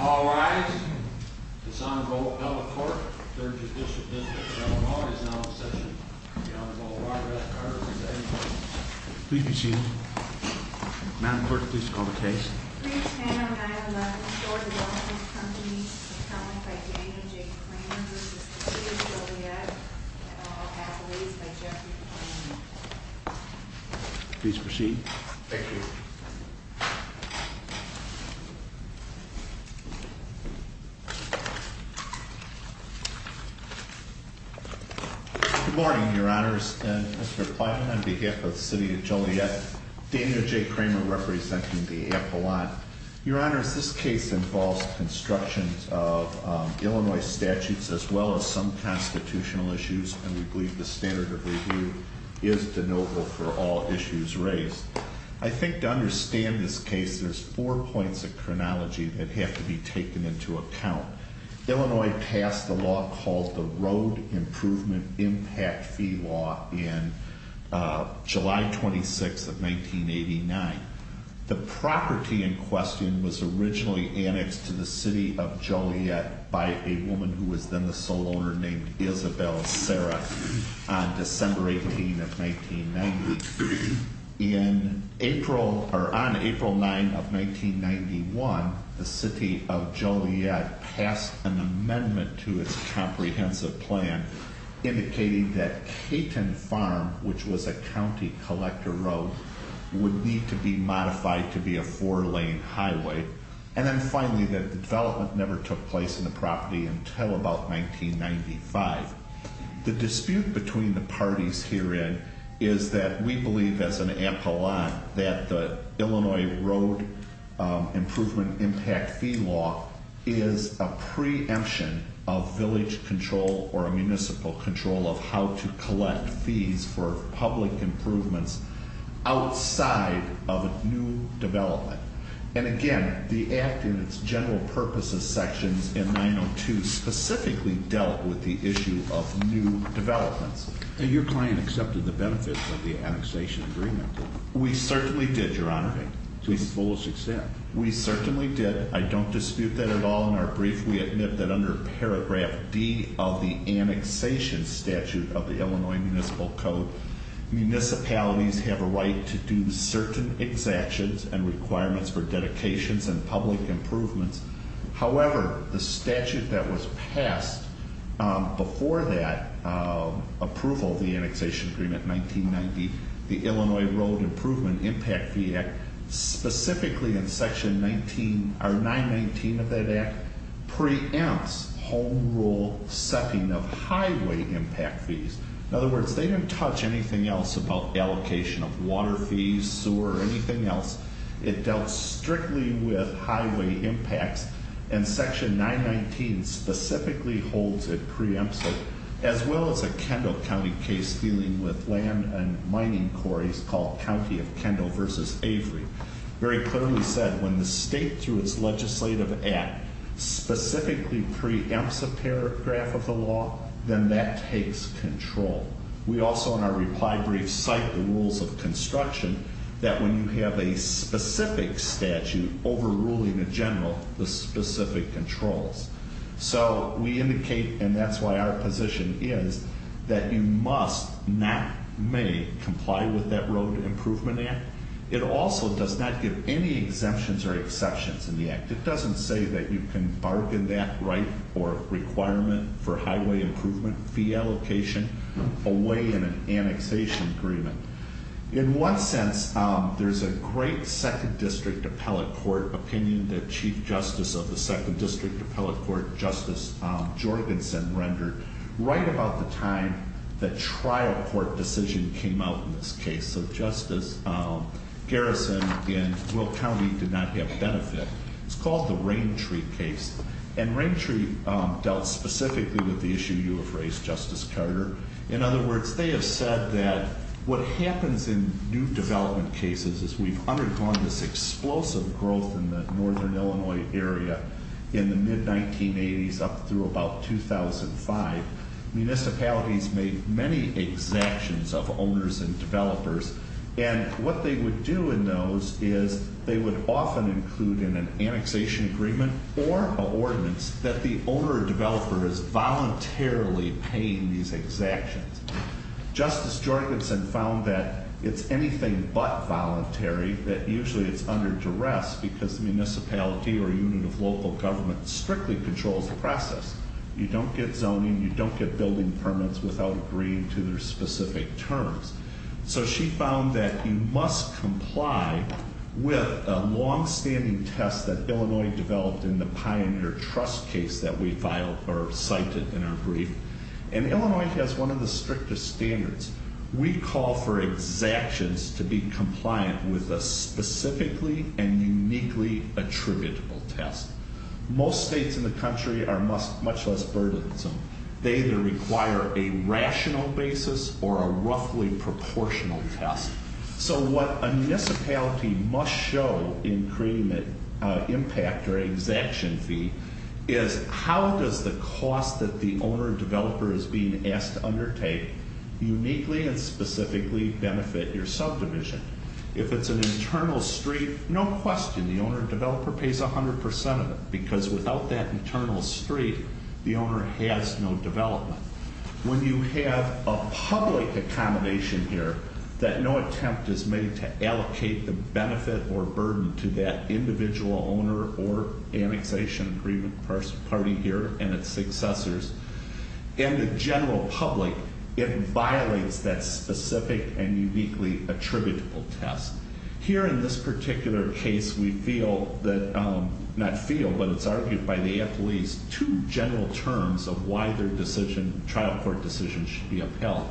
All rise. This Honorable Ella Cork, 3rd Judicial District of Delaware, is now in session. Please be seated. Madam Clerk, please call the case. Please stand on item 11, Store Development Company, accounted by Daniel J. Kramer v. City of Joliet, and all appellees by Jeffery Kramer. Please proceed. Thank you. Good morning, Your Honors, and Mr. Platt, on behalf of the City of Joliet, Daniel J. Kramer, representing the appellant. Your Honors, this case involves construction of Illinois statutes as well as some constitutional issues, and we believe the standard of review is de novo for all issues raised. I think to understand this case, there's four points of chronology that have to be taken into account. Illinois passed a law called the Road Improvement Impact Fee Law in July 26 of 1989. The property in question was originally annexed to the City of Joliet by a woman who was then the sole owner named Isabel Serra on December 18 of 1990. On April 9 of 1991, the City of Joliet passed an amendment to its comprehensive plan indicating that Caton Farm, which was a county collector road, would need to be modified to be a four-lane highway. And then finally, that the development never took place in the property until about 1995. The dispute between the parties herein is that we believe as an appellant that the Illinois Road Improvement Impact Fee Law is a preemption of village control or a municipal control of how to collect fees for public improvements outside of a new development. And again, the Act in its general purposes sections in 902 specifically dealt with the issue of new developments. And your client accepted the benefits of the annexation agreement? We certainly did, Your Honor. To the fullest extent? We certainly did. I don't dispute that at all. In our brief, we admit that under paragraph D of the annexation statute of the Illinois Municipal Code, municipalities have a right to do certain exactions and requirements for dedications and public improvements. However, the statute that was passed before that approval of the annexation agreement in 1990, the Illinois Road Improvement Impact Fee Act, specifically in section 919 of that Act, preempts home rule setting of highway impact fees. In other words, they didn't touch anything else about allocation of water fees, sewer, or anything else. It dealt strictly with highway impacts and section 919 specifically holds it preemptive as well as a Kendall County case dealing with land and mining quarries called County of Kendall versus Avery. Very clearly said, when the state through its legislative act specifically preempts a paragraph of the law, then that takes control. We also, in our reply brief, cite the rules of construction that when you have a specific statute overruling a general, the specific controls. So, we indicate, and that's why our position is, that you must, not may, comply with that Road Improvement Act. It also does not give any exemptions or exceptions in the Act. It doesn't say that you can bargain that right or requirement for highway improvement fee allocation away in an annexation agreement. In one sense, there's a great Second District Appellate Court opinion that Chief Justice of the Second District Appellate Court, Justice Jorgensen, rendered right about the time the trial court decision came out in this case. So, Justice Garrison in Will County did not get benefit. It's called the Raintree case. And Raintree dealt specifically with the issue you have raised, Justice Carter. In other words, they have said that what happens in new development cases is we've undergone this explosive growth in the northern Illinois area in the mid-1980s up through about 2005. Municipalities made many exactions of owners and developers. And what they would do in those is they would often include in an annexation agreement or an ordinance that the owner or developer is voluntarily paying these exactions. Justice Jorgensen found that it's anything but voluntary, that usually it's under duress because municipality or unit of local government strictly controls the process. You don't get zoning. You don't get building permits without agreeing to their specific terms. So she found that you must comply with a long-standing test that Illinois developed in the Pioneer Trust case that we filed or cited in our brief. And Illinois has one of the strictest standards. We call for exactions to be compliant with a specifically and uniquely attributable test. Most states in the country are much less burdensome. They either require a rational basis or a roughly proportional test. So what a municipality must show in creating that impact or exaction fee is how does the cost that the owner or developer is being asked to undertake uniquely and specifically benefit your subdivision. If it's an internal street, no question the owner or developer pays 100% of it because without that internal street, the owner has no development. When you have a public accommodation here that no attempt is made to allocate the benefit or burden to that individual owner or annexation agreement party here and its successors, in the general public, it violates that specific and uniquely attributable test. Here in this particular case, we feel that, not feel, but it's argued by the athletes, two general terms of why their decision, trial court decision, should be upheld.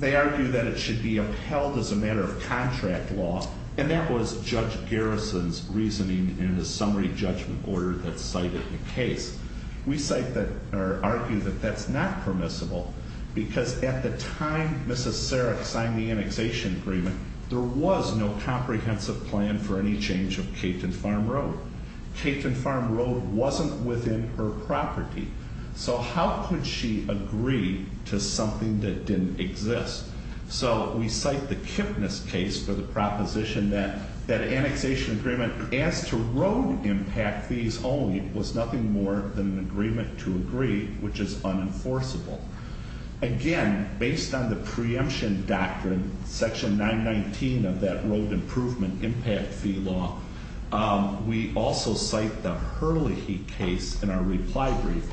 They argue that it should be upheld as a matter of contract law, and that was Judge Garrison's reasoning in the summary judgment order that cited the case. We cite that, or argue that that's not permissible because at the time Mrs. Sarek signed the annexation agreement, there was no comprehensive plan for any change of Capeton Farm Road. Capeton Farm Road wasn't within her property, so how could she agree to something that didn't exist? So we cite the Kipnis case for the proposition that that annexation agreement as to road impact fees only was nothing more than an agreement to agree, which is unenforceable. Again, based on the preemption doctrine, section 919 of that road improvement impact fee law, we also cite the Hurley case in our reply brief,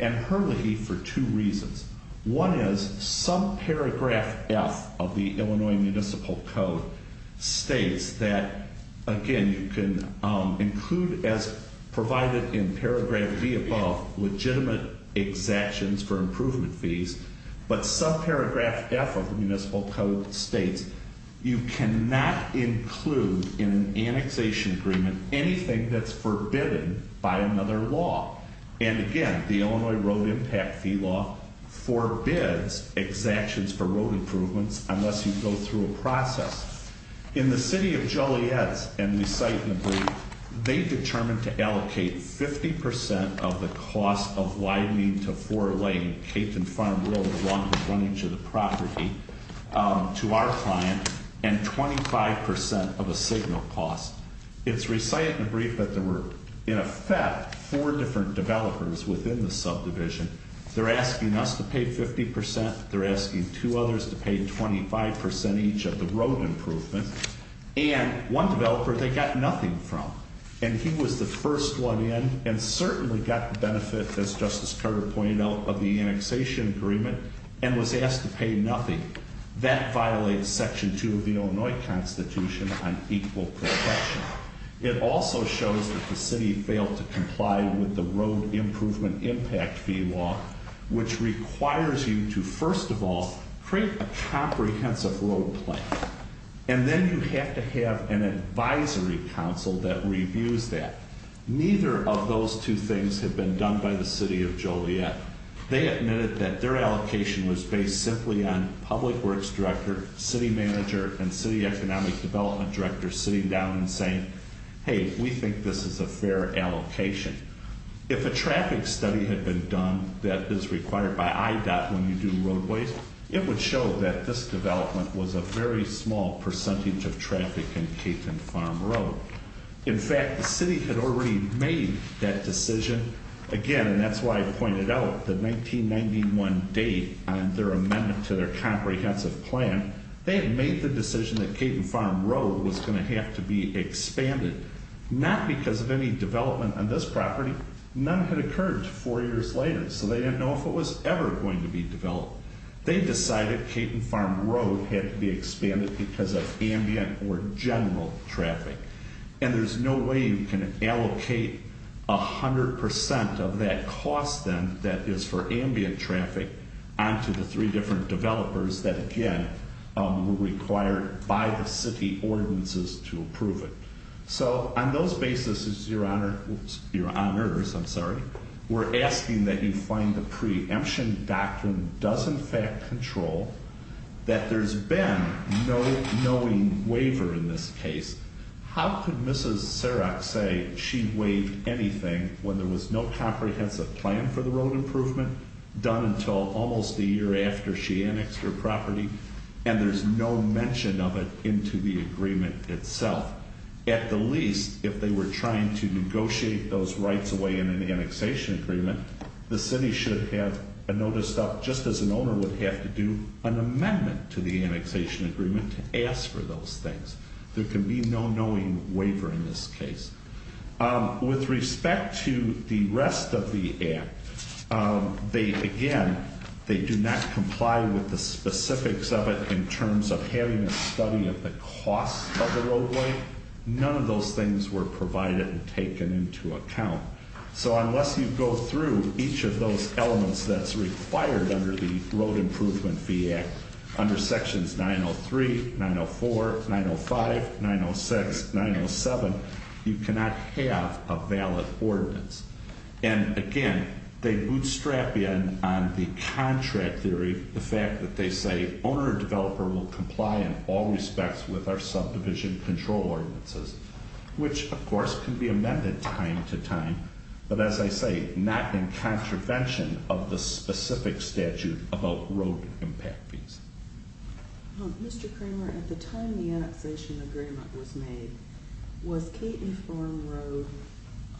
and Hurley for two reasons. One is, subparagraph F of the Illinois Municipal Code states that, again, you can include as provided in paragraph B above, legitimate exactions for improvement fees, but subparagraph F of the Municipal Code states you cannot include in an annexation agreement anything that's forbidden by another law. And again, the Illinois Road Impact Fee Law forbids exactions for road improvements unless you go through a process. In the City of Joliet's, and we cite in the brief, they determined to allocate 50% of the cost of widening to four-lane Capeton Farm Road running to the property to our client, and 25% of a signal cost. It's recited in the brief that there were, in effect, four different developers within the subdivision. They're asking us to pay 50%, they're asking two others to pay 25% each of the road improvement, and one developer they got nothing from. And he was the first one in, and certainly got the benefit, as Justice Carter pointed out, of the annexation agreement, and was asked to pay nothing. That violates Section 2 of the Illinois Constitution on equal protection. It also shows that the City failed to comply with the Road Improvement Impact Fee Law, which requires you to, first of all, create a comprehensive road plan. And then you have to have an advisory council that reviews that. Neither of those two things have been done by the City of Joliet. They admitted that their allocation was based simply on Public Works Director, City Manager, and City Economic Development Director sitting down and saying, hey, we think this is a fair allocation. If a traffic study had been done that is required by IDOT when you do roadways, it would show that this development was a very small percentage of traffic in Capeton Farm Road. In fact, the City had already made that decision. Again, and that's why I pointed out, the 1991 date on their amendment to their comprehensive plan, they had made the decision that Capeton Farm Road was going to have to be expanded. Not because of any development on this property. None had occurred until four years later, so they didn't know if it was ever going to be developed. They decided Capeton Farm Road had to be expanded because of ambient or general traffic. And there's no way you can allocate 100% of that cost then that is for ambient traffic onto the three different developers that, again, were required by the city ordinances to approve it. So, on those basis, your honors, I'm sorry, we're asking that you find the preemption doctrine does in fact control that there's been no knowing waiver in this case. How could Mrs. Serak say she waived anything when there was no comprehensive plan for the road improvement done until almost a year after she annexed her property and there's no mention of it into the agreement itself? At the least, if they were trying to negotiate those rights away in an annexation agreement, the city should have a notice of, just as an owner would have to do, an amendment to the annexation agreement to ask for those things. There can be no knowing waiver in this case. With respect to the rest of the act, they, again, they do not comply with the specifics of it in terms of having a study of the cost of the roadway. None of those things were provided and taken into account. So, unless you go through each of those elements that's required under the Road Improvement Fee Act, under sections 903, 904, 905, 906, 907, you cannot have a valid ordinance. And, again, they bootstrap in on the contract theory, the fact that they say owner and developer will comply in all respects with our subdivision control ordinances, which, of course, can be amended time to time, but as I say, not in contravention of the specific statute about road impact fees. Mr. Kramer, at the time the annexation agreement was made, was Caton Farm Road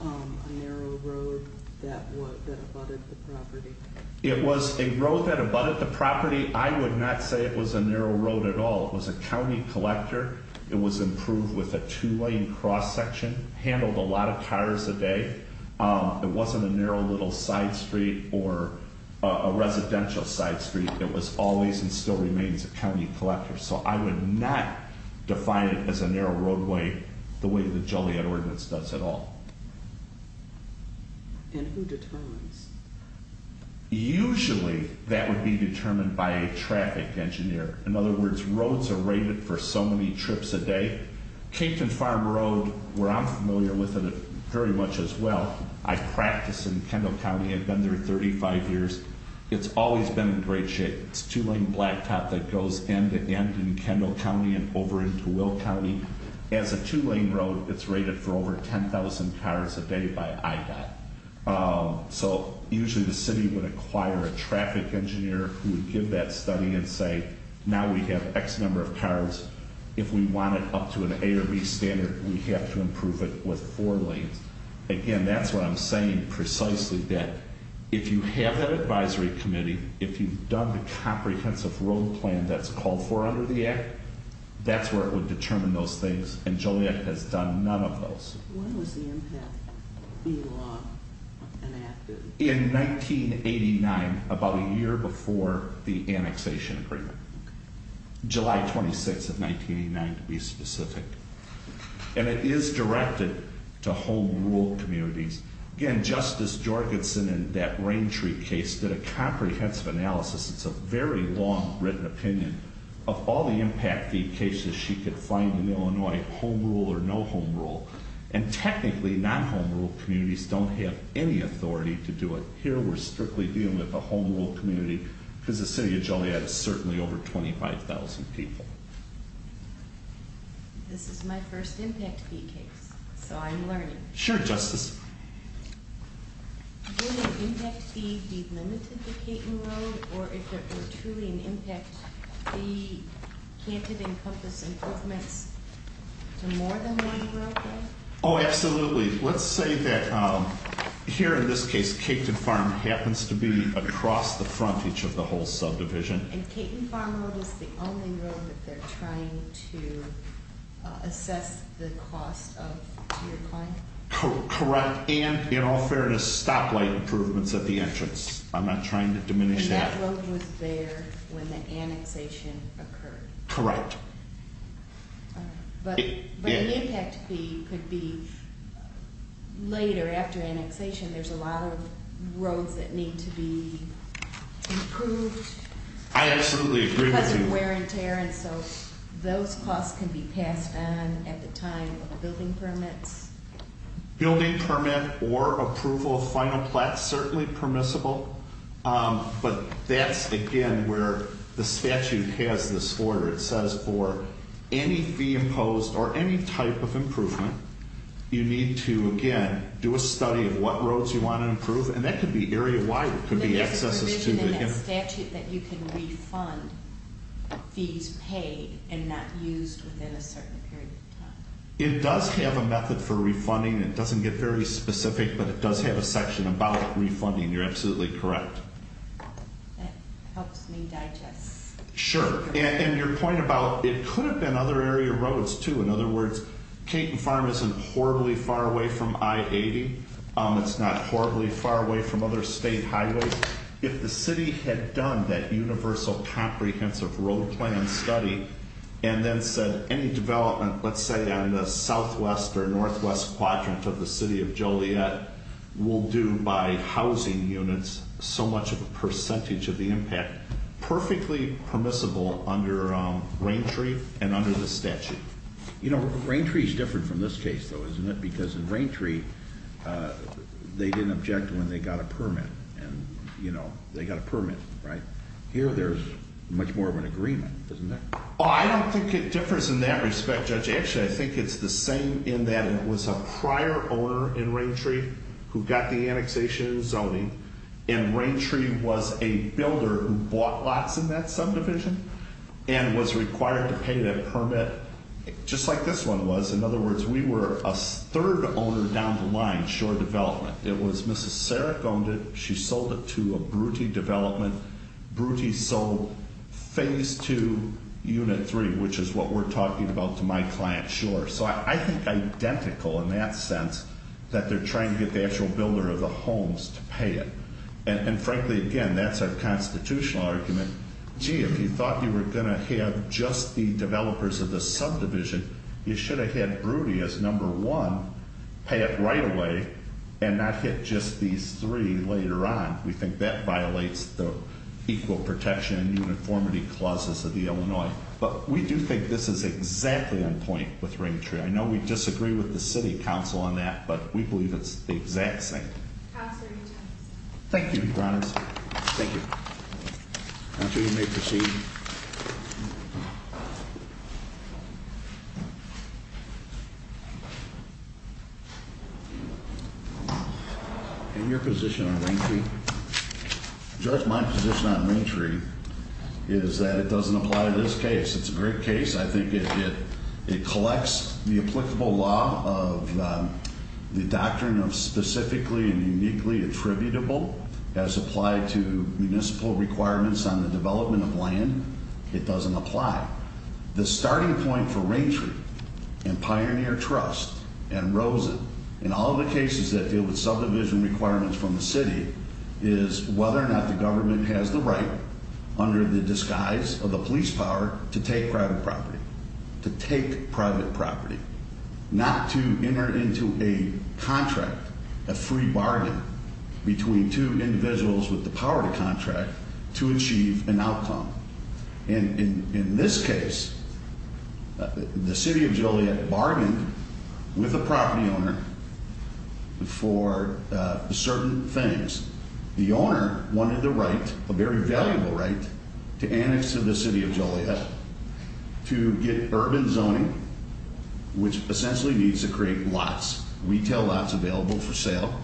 a narrow road that abutted the property? It was a road that abutted the property. I would not say it was a narrow road at all. It was a county collector. It was improved with a two-lane cross section, handled a lot of cars a day. It wasn't a narrow little side street or a residential side street. It was always and still remains a county collector. So I would not define it as a narrow roadway the way the Joliet Ordinance does at all. And who determines? Usually that would be determined by a traffic engineer. In other words, roads are rated for so many trips a day. Caton Farm Road, where I'm familiar with it very much as well, I practice in Kendall County. I've been there 35 years. It's always been in great shape. It's a two-lane blacktop that goes end-to-end in Kendall County and over into Will County. As a two-lane road, it's rated for over 10,000 cars a day by IDOT. So usually the city would acquire a traffic engineer who would give that study and say, now we have X number of cars. If we want it up to an A or B standard, we have to improve it with four lanes. Again, that's what I'm saying precisely, that if you have an advisory committee, if you've done the comprehensive road plan that's called for under the Act, that's where it would determine those things. And Joliet has done none of those. When was the impact in law enacted? In 1989, about a year before the annexation agreement. July 26th of 1989 to be specific. And it is directed to home rule communities. Again, Justice Jorgensen in that Rain Tree case did a comprehensive analysis. It's a very long written opinion of all the impact fee cases she could find in Illinois, home rule or no home rule. And technically, non-home rule communities don't have any authority to do it. Here, we're strictly dealing with the home rule community because the city of Joliet is certainly over 25,000 people. This is my first impact fee case, so I'm learning. Sure, Justice. Would an impact fee be limited to Caton Road, or if there were truly an impact, the plan could encompass improvements to more than one roadway? Oh, absolutely. Let's say that here in this case, Caton Farm happens to be across the frontage of the whole subdivision. And Caton Farm Road is the only road that they're trying to assess the cost of your client? Correct. And in all fairness, stoplight improvements at the entrance. I'm not trying to diminish that. And that road was there when the annexation occurred? Correct. But an impact fee could be later after annexation, there's a lot of roads that need to be improved? I absolutely agree with you. Because of wear and tear, and so those costs can be passed on at the time of building permits? Building permit or approval of final plans, certainly permissible. But that's, again, where the statute has this order. It says for any fee imposed or any type of improvement, you need to, again, do a study of what roads you want to improve. And that could be area-wide, it could be accesses to... But there's a provision in that statute that you can refund fees paid and not used within a certain period of time? It does have a method for refunding. It doesn't get very specific, but it does have a section about refunding. You're absolutely correct. That helps me digest. Sure. And your point about it could have been other area roads, too. In other words, Caton Farm isn't horribly far away from I-80. It's not horribly far away from other state highways. If the city had done that universal comprehensive road plan study, and then said any development, let's say, on the southwest or northwest quadrant of the city of Joliet, will do by housing units so much of a percentage of the impact, perfectly permissible under Raintree and under the statute? You know, Raintree is different from this case, though, isn't it? Because in Raintree, they didn't object when they got a permit, and, you know, they got a permit, right? Here there's much more of an agreement, isn't there? Oh, I don't think it differs in that respect, Judge. Actually, I think it's the same in that it was a prior owner in Raintree who got the annexation zoning, and Raintree was a builder who bought lots in that subdivision and was required to pay that permit, just like this one was. In other words, we were a third owner down the line, Shore Development. It was Mrs. Sarek owned it. She sold it to a Brute Development. Brute sold Phase 2, Unit 3, which is what we're talking about to my client, Shore. So I think identical in that sense that they're trying to get the actual builder of the homes to pay it. And frankly, again, that's our constitutional argument. Gee, if you thought you were going to have just the developers of the subdivision, you should have had Brute as number one, pay it right away, and not hit just these three later on. We think that violates the equal protection and uniformity clauses of the Illinois. But we do think this is exactly on point with Raintree. I know we disagree with the City Council on that, but we believe it's the exact same. Counselor, your time is up. Thank you, Your Honor. Thank you. Counsel, you may proceed. In your position on Raintree, Judge, my position on Raintree is that it doesn't apply to this case. It's a great case. I think it collects the applicable law of the doctrine of specifically and uniquely attributable as applied to municipal requirements on the development of land. It doesn't apply. The starting point for Raintree and Pioneer Trust and Rosen and all the cases that deal with subdivision requirements from the city is whether or not the government has the right under the disguise of the police power to take private property, to take private property, not to enter into a contract, a free bargain, between two individuals with the power to contract to achieve an outcome. In this case, the City of Joliet bargained with the property owner for certain things. The owner wanted the right, a very valuable right, to annex to the City of Joliet to get urban zoning, which essentially means to create lots, retail lots available for sale,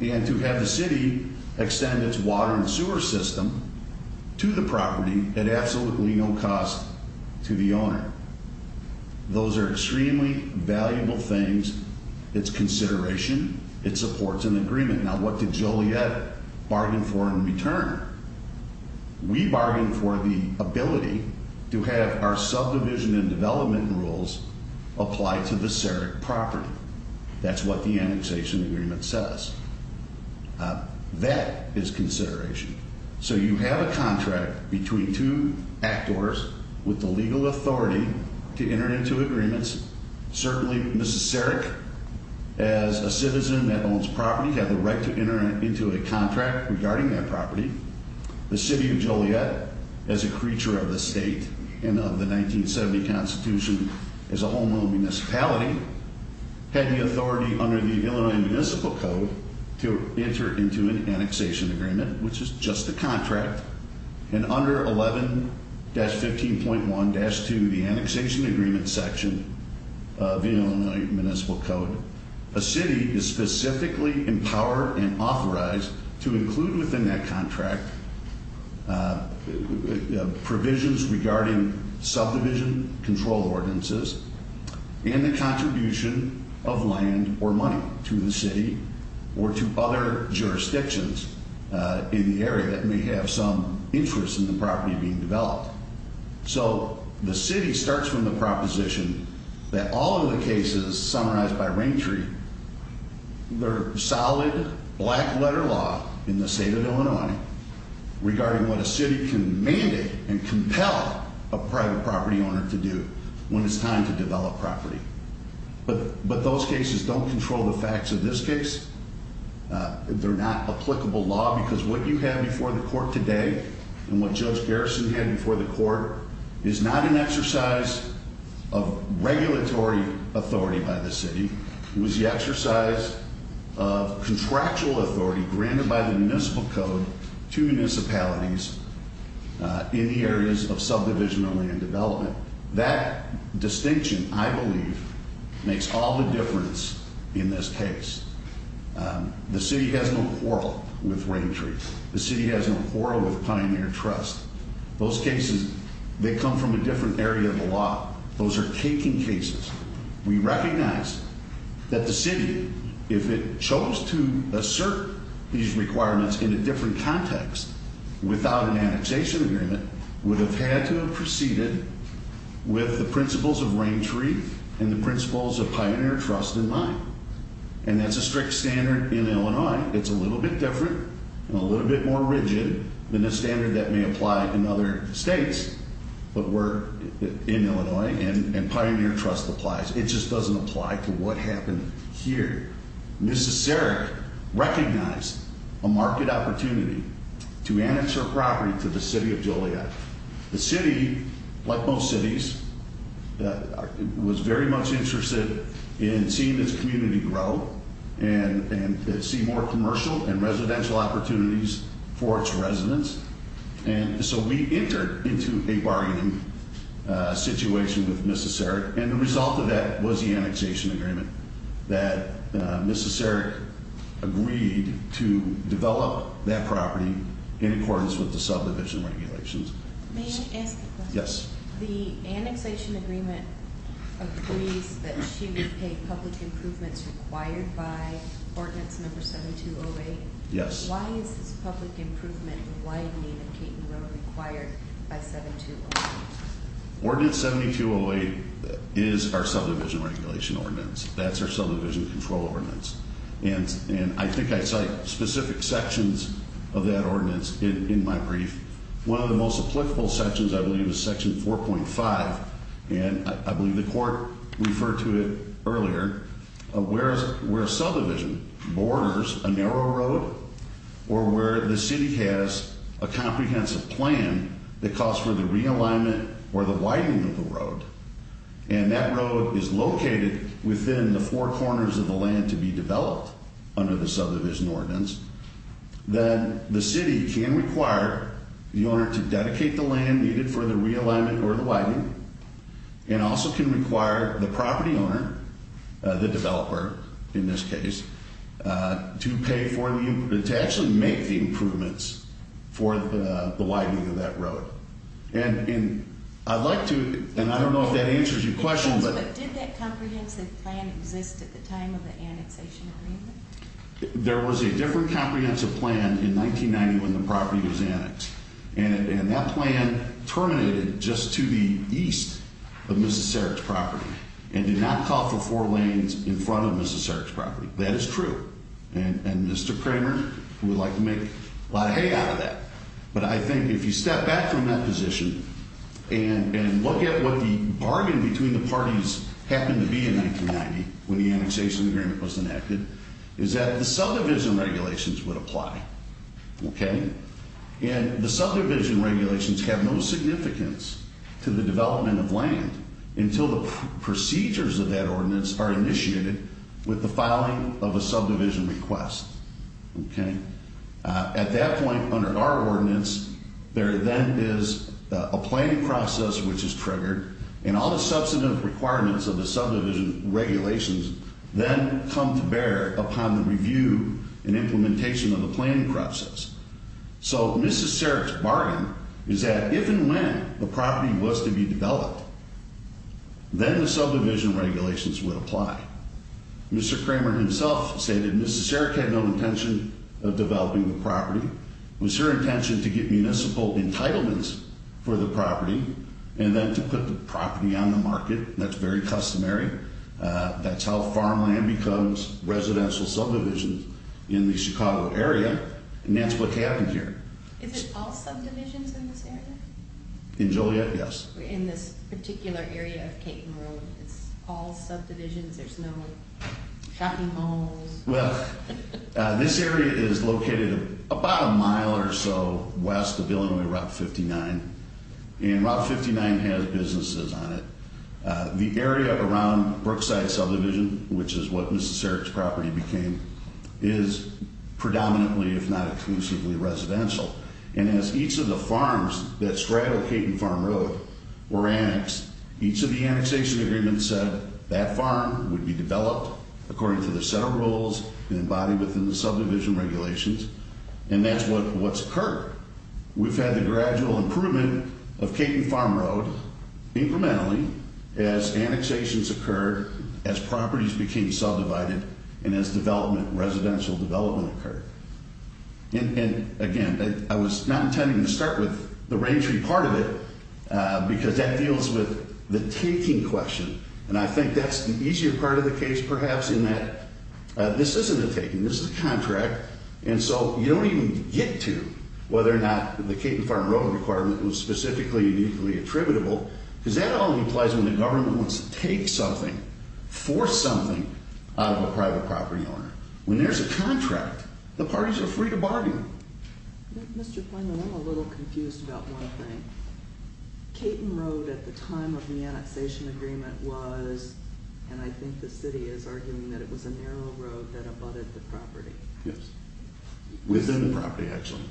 and to have the city extend its water and sewer system to the property at absolutely no cost to the owner. Those are extremely valuable things. It's consideration. It supports an agreement. Now, what did Joliet bargain for in return? We bargained for the ability to have our subdivision and development rules apply to the CEREC property. That's what the annexation agreement says. That is consideration. So you have a contract between two actors with the legal authority to enter into agreements. Certainly, Mrs. CEREC, as a citizen that owns property, had the right to enter into a contract regarding that property. The City of Joliet, as a creature of the state and of the 1970 Constitution, is a homeown municipality. Had the authority under the Illinois Municipal Code to enter into an annexation agreement, which is just a contract. And under 11-15.1-2, the annexation agreement section of the Illinois Municipal Code, a city is specifically empowered and authorized to include within that contract provisions regarding subdivision control ordinances and the contribution of land or money to the city or to other jurisdictions in the area that may have some interest in the property being developed. So the city starts from the proposition that all of the cases summarized by Raintree, they're solid black letter law in the state of Illinois regarding what a city can mandate and compel a private property owner to do when it's time to develop property. But those cases don't control the facts of this case. They're not applicable law because what you have before the court today and what Judge Garrison had before the court is not an exercise of regulatory authority by the city. It was the exercise of contractual authority granted by the Municipal Code to municipalities in the areas of subdivision and land development. That distinction, I believe, makes all the difference in this case. The city has no quarrel with Raintree. The city has no quarrel with Pioneer Trust. Those cases, they come from a different area of the law. Those are taking cases. We recognize that the city, if it chose to assert these requirements in a different context without an annexation agreement, would have had to have proceeded with the principles of Raintree and the principles of Pioneer Trust in mind. And that's a strict standard in Illinois. It's a little bit different and a little bit more rigid than the standard that may apply in other states. But we're in Illinois, and Pioneer Trust applies. It just doesn't apply to what happened here. Ms. Zarek recognized a market opportunity to annex her property to the city of Joliet. The city, like most cities, was very much interested in seeing this community grow and to see more commercial and residential opportunities for its residents. And so we entered into a bargaining situation with Ms. Zarek, and the result of that was the annexation agreement that Ms. Zarek agreed to develop that property in accordance with the subdivision regulations. May I ask a question? Yes. The annexation agreement agrees that she would pay public improvements required by Ordinance Number 7208. Yes. Why is this public improvement and widening of Caton Road required by 7208? Ordinance 7208 is our subdivision regulation ordinance. That's our subdivision control ordinance. And I think I cite specific sections of that ordinance in my brief. One of the most applicable sections, I believe, is Section 4.5, and I believe the court referred to it earlier, where a subdivision borders a narrow road or where the city has a comprehensive plan that calls for the realignment or the widening of the road. And that road is located within the four corners of the land to be developed under the subdivision ordinance. Then the city can require the owner to dedicate the land needed for the realignment or the widening and also can require the property owner, the developer in this case, to actually make the improvements for the widening of that road. And I'd like to, and I don't know if that answers your question. But did that comprehensive plan exist at the time of the annexation agreement? There was a different comprehensive plan in 1990 when the property was annexed. And that plan terminated just to the east of Mrs. Sarek's property and did not call for four lanes in front of Mrs. Sarek's property. That is true. And Mr. Kramer would like to make a lot of hay out of that. But I think if you step back from that position and look at what the bargain between the parties happened to be in 1990 when the annexation agreement was enacted, is that the subdivision regulations would apply. And the subdivision regulations have no significance to the development of land until the procedures of that ordinance are initiated with the filing of a subdivision request. At that point, under our ordinance, there then is a planning process which is triggered and all the substantive requirements of the subdivision regulations then come to bear upon the review and implementation of the planning process. So Mrs. Sarek's bargain is that if and when the property was to be developed, then the subdivision regulations would apply. Mr. Kramer himself stated Mrs. Sarek had no intention of developing the property. It was her intention to get municipal entitlements for the property and then to put the property on the market. That's very customary. That's how farmland becomes residential subdivisions in the Chicago area. And that's what happened here. Is it all subdivisions in this area? In Joliet, yes. In this particular area of Caton Road, it's all subdivisions? There's no shopping malls? Well, this area is located about a mile or so west of Illinois Route 59, and Route 59 has businesses on it. The area around Brookside subdivision, which is what Mrs. Sarek's property became, is predominantly, if not exclusively, residential. And as each of the farms that straddle Caton Farm Road were annexed, each of the annexation agreements said that farm would be developed according to the set of rules embodied within the subdivision regulations, and that's what's occurred. We've had the gradual improvement of Caton Farm Road incrementally as annexations occurred, as properties became subdivided, and as residential development occurred. And, again, I was not intending to start with the rangery part of it because that deals with the taking question, and I think that's the easier part of the case perhaps in that this isn't a taking, this is a contract, and so you don't even get to whether or not the Caton Farm Road requirement was specifically uniquely attributable because that only applies when the government wants to take something, force something out of a private property owner. When there's a contract, the parties are free to bargain. Mr. Kramer, I'm a little confused about one thing. Caton Road at the time of the annexation agreement was, and I think the city is arguing that it was a narrow road that abutted the property. Yes. Within the property, actually.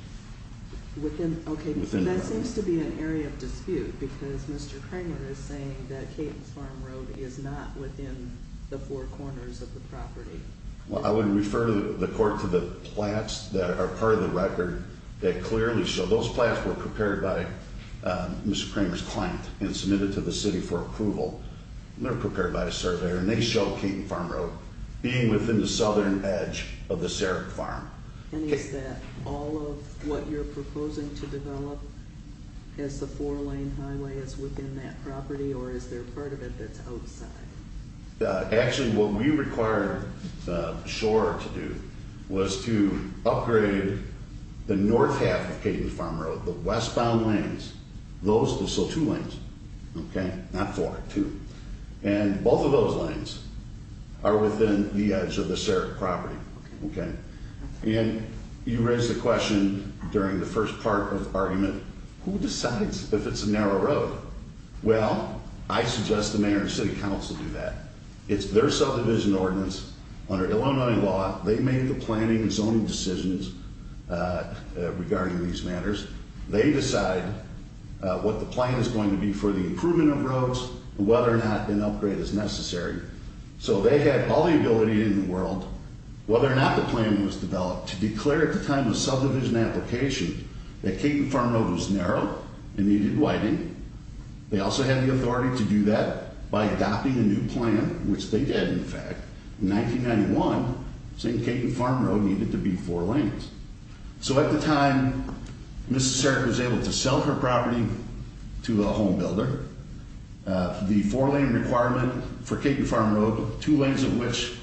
Within, okay, that seems to be an area of dispute because Mr. Kramer is saying that Caton Farm Road is not within the four corners of the property. Well, I would refer the court to the plats that are part of the record that clearly show those plats were prepared by Mr. Kramer's client and submitted to the city for approval. They were prepared by a surveyor, and they show Caton Farm Road being within the southern edge of the Sarek Farm. And is that all of what you're proposing to develop as the four-lane highway is within that property, or is there part of it that's outside? Actually, what we required Schor to do was to upgrade the north half of Caton Farm Road, the westbound lanes, those are still two lanes, okay? Not four, two. And both of those lanes are within the edge of the Sarek property, okay? And you raised the question during the first part of the argument, who decides if it's a narrow road? Well, I suggest the mayor and city council do that. It's their subdivision ordinance under Illinois law. They make the planning and zoning decisions regarding these matters. They decide what the plan is going to be for the improvement of roads and whether or not an upgrade is necessary. So they have all the ability in the world, whether or not the plan was developed, to declare at the time of subdivision application that Caton Farm Road was narrow and needed widening, they also had the authority to do that by adopting a new plan, which they did, in fact. In 1991, St. Caton Farm Road needed to be four lanes. So at the time, Mrs. Sarek was able to sell her property to a home builder. The four-lane requirement for Caton Farm Road, two lanes of which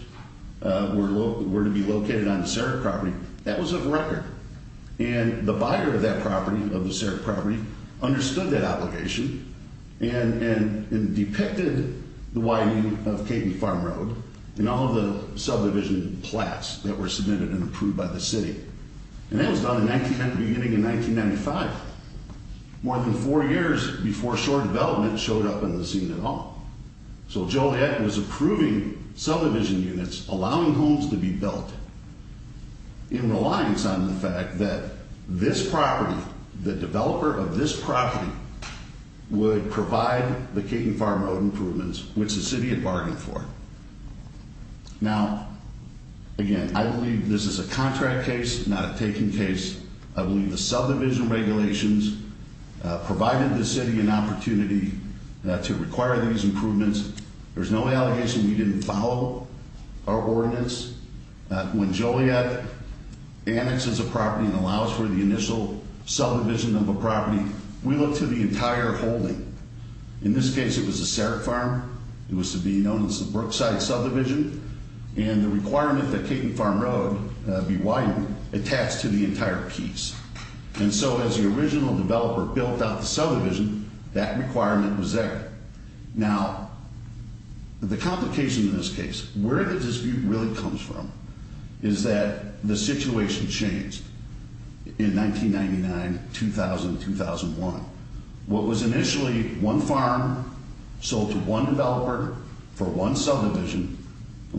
were to be located on the Sarek property, that was a record. And the buyer of that property, of the Sarek property, understood that application and depicted the widening of Caton Farm Road and all of the subdivision plats that were submitted and approved by the city. And that was done beginning in 1995, more than four years before shore development showed up in the scene at all. So Joliet was approving subdivision units, allowing homes to be built, in reliance on the fact that this property, the developer of this property, would provide the Caton Farm Road improvements, which the city had bargained for. Now, again, I believe this is a contract case, not a taking case. I believe the subdivision regulations provided the city an opportunity to require these improvements. There's no allegation we didn't follow our ordinance. When Joliet annexes a property and allows for the initial subdivision of a property, we look to the entire holding. In this case, it was a Sarek farm. It was to be known as the Brookside subdivision. And the requirement that Caton Farm Road be widened attached to the entire piece. And so as the original developer built out the subdivision, that requirement was there. Now, the complication in this case, where the dispute really comes from, is that the situation changed. In 1999, 2000, 2001. What was initially one farm sold to one developer for one subdivision,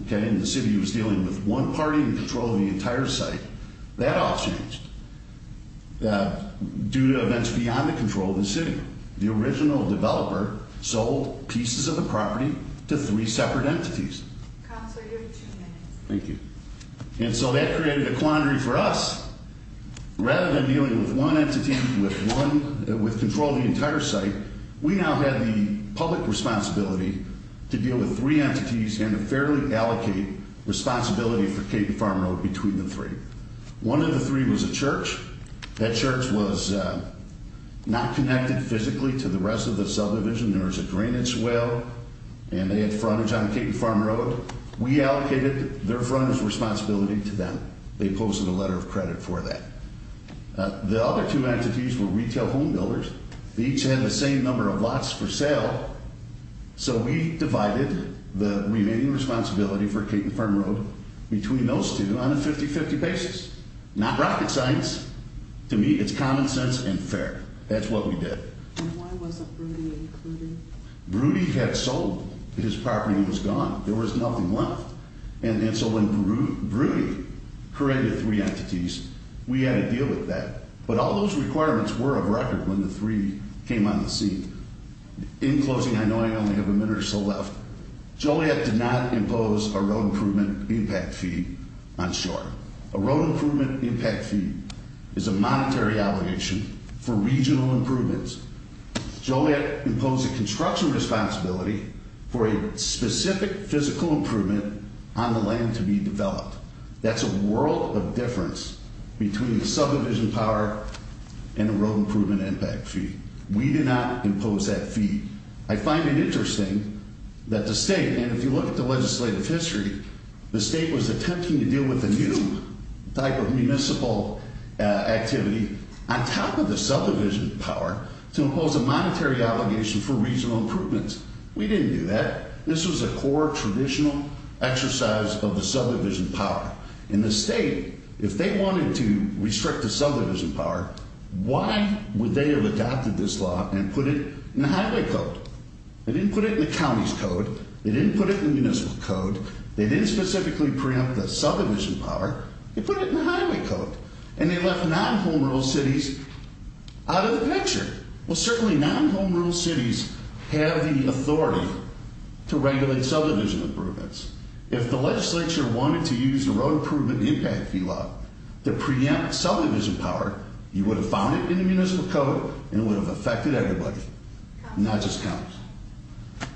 okay, and the city was dealing with one party in control of the entire site, that all changed. Due to events beyond the control of the city. The original developer sold pieces of the property to three separate entities. Counselor, you have two minutes. Thank you. And so that created a quandary for us. Rather than dealing with one entity with control of the entire site, we now had the public responsibility to deal with three entities and to fairly allocate responsibility for Caton Farm Road between the three. One of the three was a church. That church was not connected physically to the rest of the subdivision. There was a drainage well, and they had frontage on Caton Farm Road. We allocated their frontage responsibility to them. They posted a letter of credit for that. The other two entities were retail home builders. Each had the same number of lots for sale, so we divided the remaining responsibility for Caton Farm Road between those two on a 50-50 basis. Not rocket science. To me, it's common sense and fair. That's what we did. And why wasn't Broody included? Broody had sold. His property was gone. There was nothing left. And so when Broody created three entities, we had to deal with that. But all those requirements were of record when the three came on the scene. In closing, I know I only have a minute or so left. Joliet did not impose a road improvement impact fee on shore. A road improvement impact fee is a monetary obligation for regional improvements. Joliet imposed a construction responsibility for a specific physical improvement on the land to be developed. That's a world of difference between subdivision power and a road improvement impact fee. We did not impose that fee. I find it interesting that the state, and if you look at the legislative history, the state was attempting to deal with a new type of municipal activity on top of the subdivision power to impose a monetary obligation for regional improvements. We didn't do that. This was a core traditional exercise of the subdivision power. And the state, if they wanted to restrict the subdivision power, why would they have adopted this law and put it in the highway code? They didn't put it in the county's code. They didn't put it in the municipal code. They didn't specifically preempt the subdivision power. They put it in the highway code. And they left non-home rural cities out of the picture. Well, certainly non-home rural cities have the authority to regulate subdivision improvements. If the legislature wanted to use the road improvement impact fee law to preempt subdivision power, you would have found it in the municipal code and it would have affected everybody, not just counties.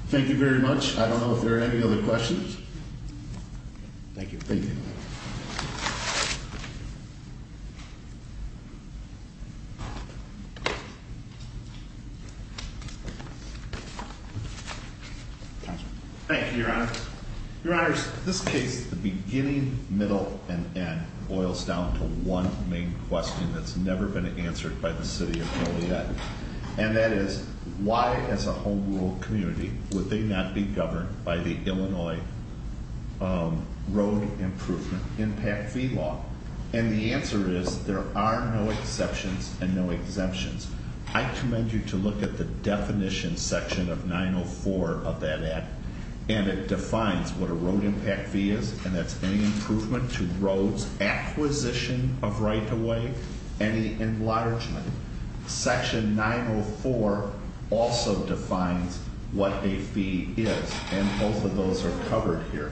Thank you very much. I don't know if there are any other questions. Thank you. Councilman. Thank you, Your Honor. Your Honors, this case, the beginning, middle, and end boils down to one main question that's never been answered by the city of Philly yet. And that is, why, as a home rural community, would they not be governed by the Illinois road improvement impact fee law? And the answer is, there are no exceptions and no exemptions. I commend you to look at the definition section of 904 of that act. And it defines what a road impact fee is. And that's any improvement to roads, acquisition of right-of-way, any enlargement. Section 904 also defines what a fee is. And both of those are covered here.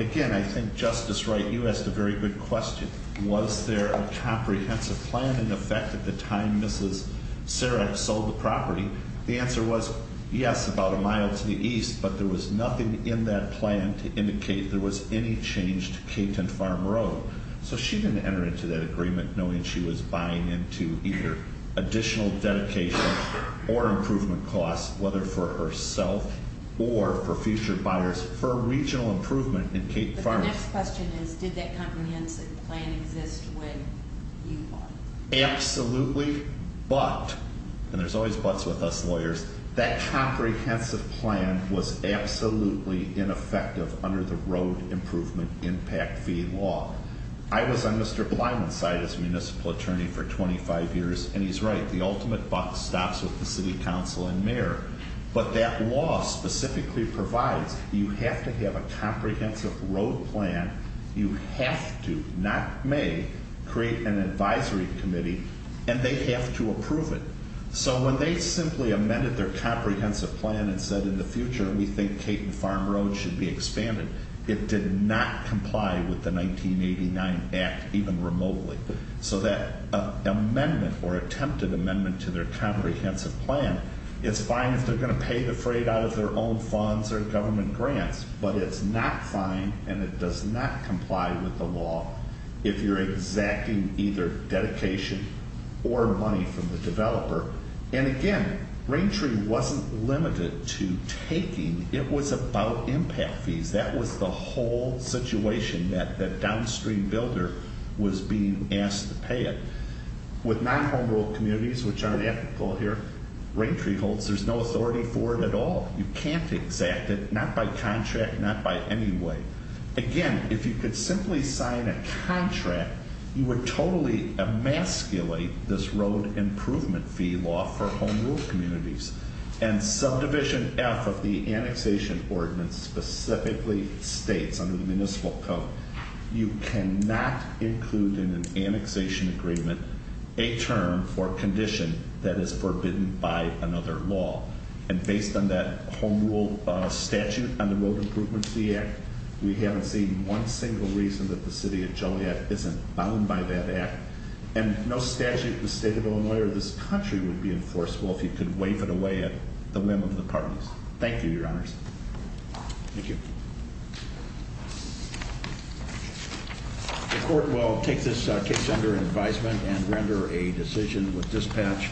Again, I think Justice Wright, you asked a very good question. Was there a comprehensive plan? Did it have an effect at the time Mrs. Sarek sold the property? The answer was, yes, about a mile to the east. But there was nothing in that plan to indicate there was any change to Capeton Farm Road. So she didn't enter into that agreement knowing she was buying into either additional dedication or improvement costs, whether for herself or for future buyers, for regional improvement in Capeton Farm. But the next question is, did that comprehensive plan exist when you bought it? Absolutely. But, and there's always buts with us lawyers, that comprehensive plan was absolutely ineffective under the road improvement impact fee law. I was on Mr. Blyman's side as Municipal Attorney for 25 years, and he's right. The ultimate but stops with the City Council and Mayor. But that law specifically provides you have to have a comprehensive road plan. You have to, not may, create an advisory committee and they have to approve it. So when they simply amended their comprehensive plan and said in the future we think Capeton Farm Road should be expanded, it did not comply with the 1989 Act, even remotely. So that amendment, or attempted amendment to their comprehensive plan, it's fine if they're going to pay the freight out of their own funds or government grants, but it's not fine and it does not comply with the law if you're exacting either dedication or money from the developer. And again, Raintree wasn't limited to taking, it was about impact fees. That was the whole situation that that downstream builder was being asked to pay it. With non-home road communities, which aren't ethical here, Raintree holds there's no authority for it at all. You can't exact it, not by contract, not by any way. Again, if you could simply sign a contract, you would totally emasculate this road improvement fee law for home road communities. And Subdivision F of the annexation ordinance specifically states under the Municipal Code, you cannot include in an annexation agreement a term or condition that is forbidden by another law. And based on that home rule statute on the Road Improvement Fee Act, we haven't seen one single reason that the city of Joliet isn't bound by that act. And no statute in the state of Illinois or this country would be enforceable if you could waive it away at the whim of the parties. Thank you, your honors. Thank you. The court will take this case under advisement and render a decision with dispatch.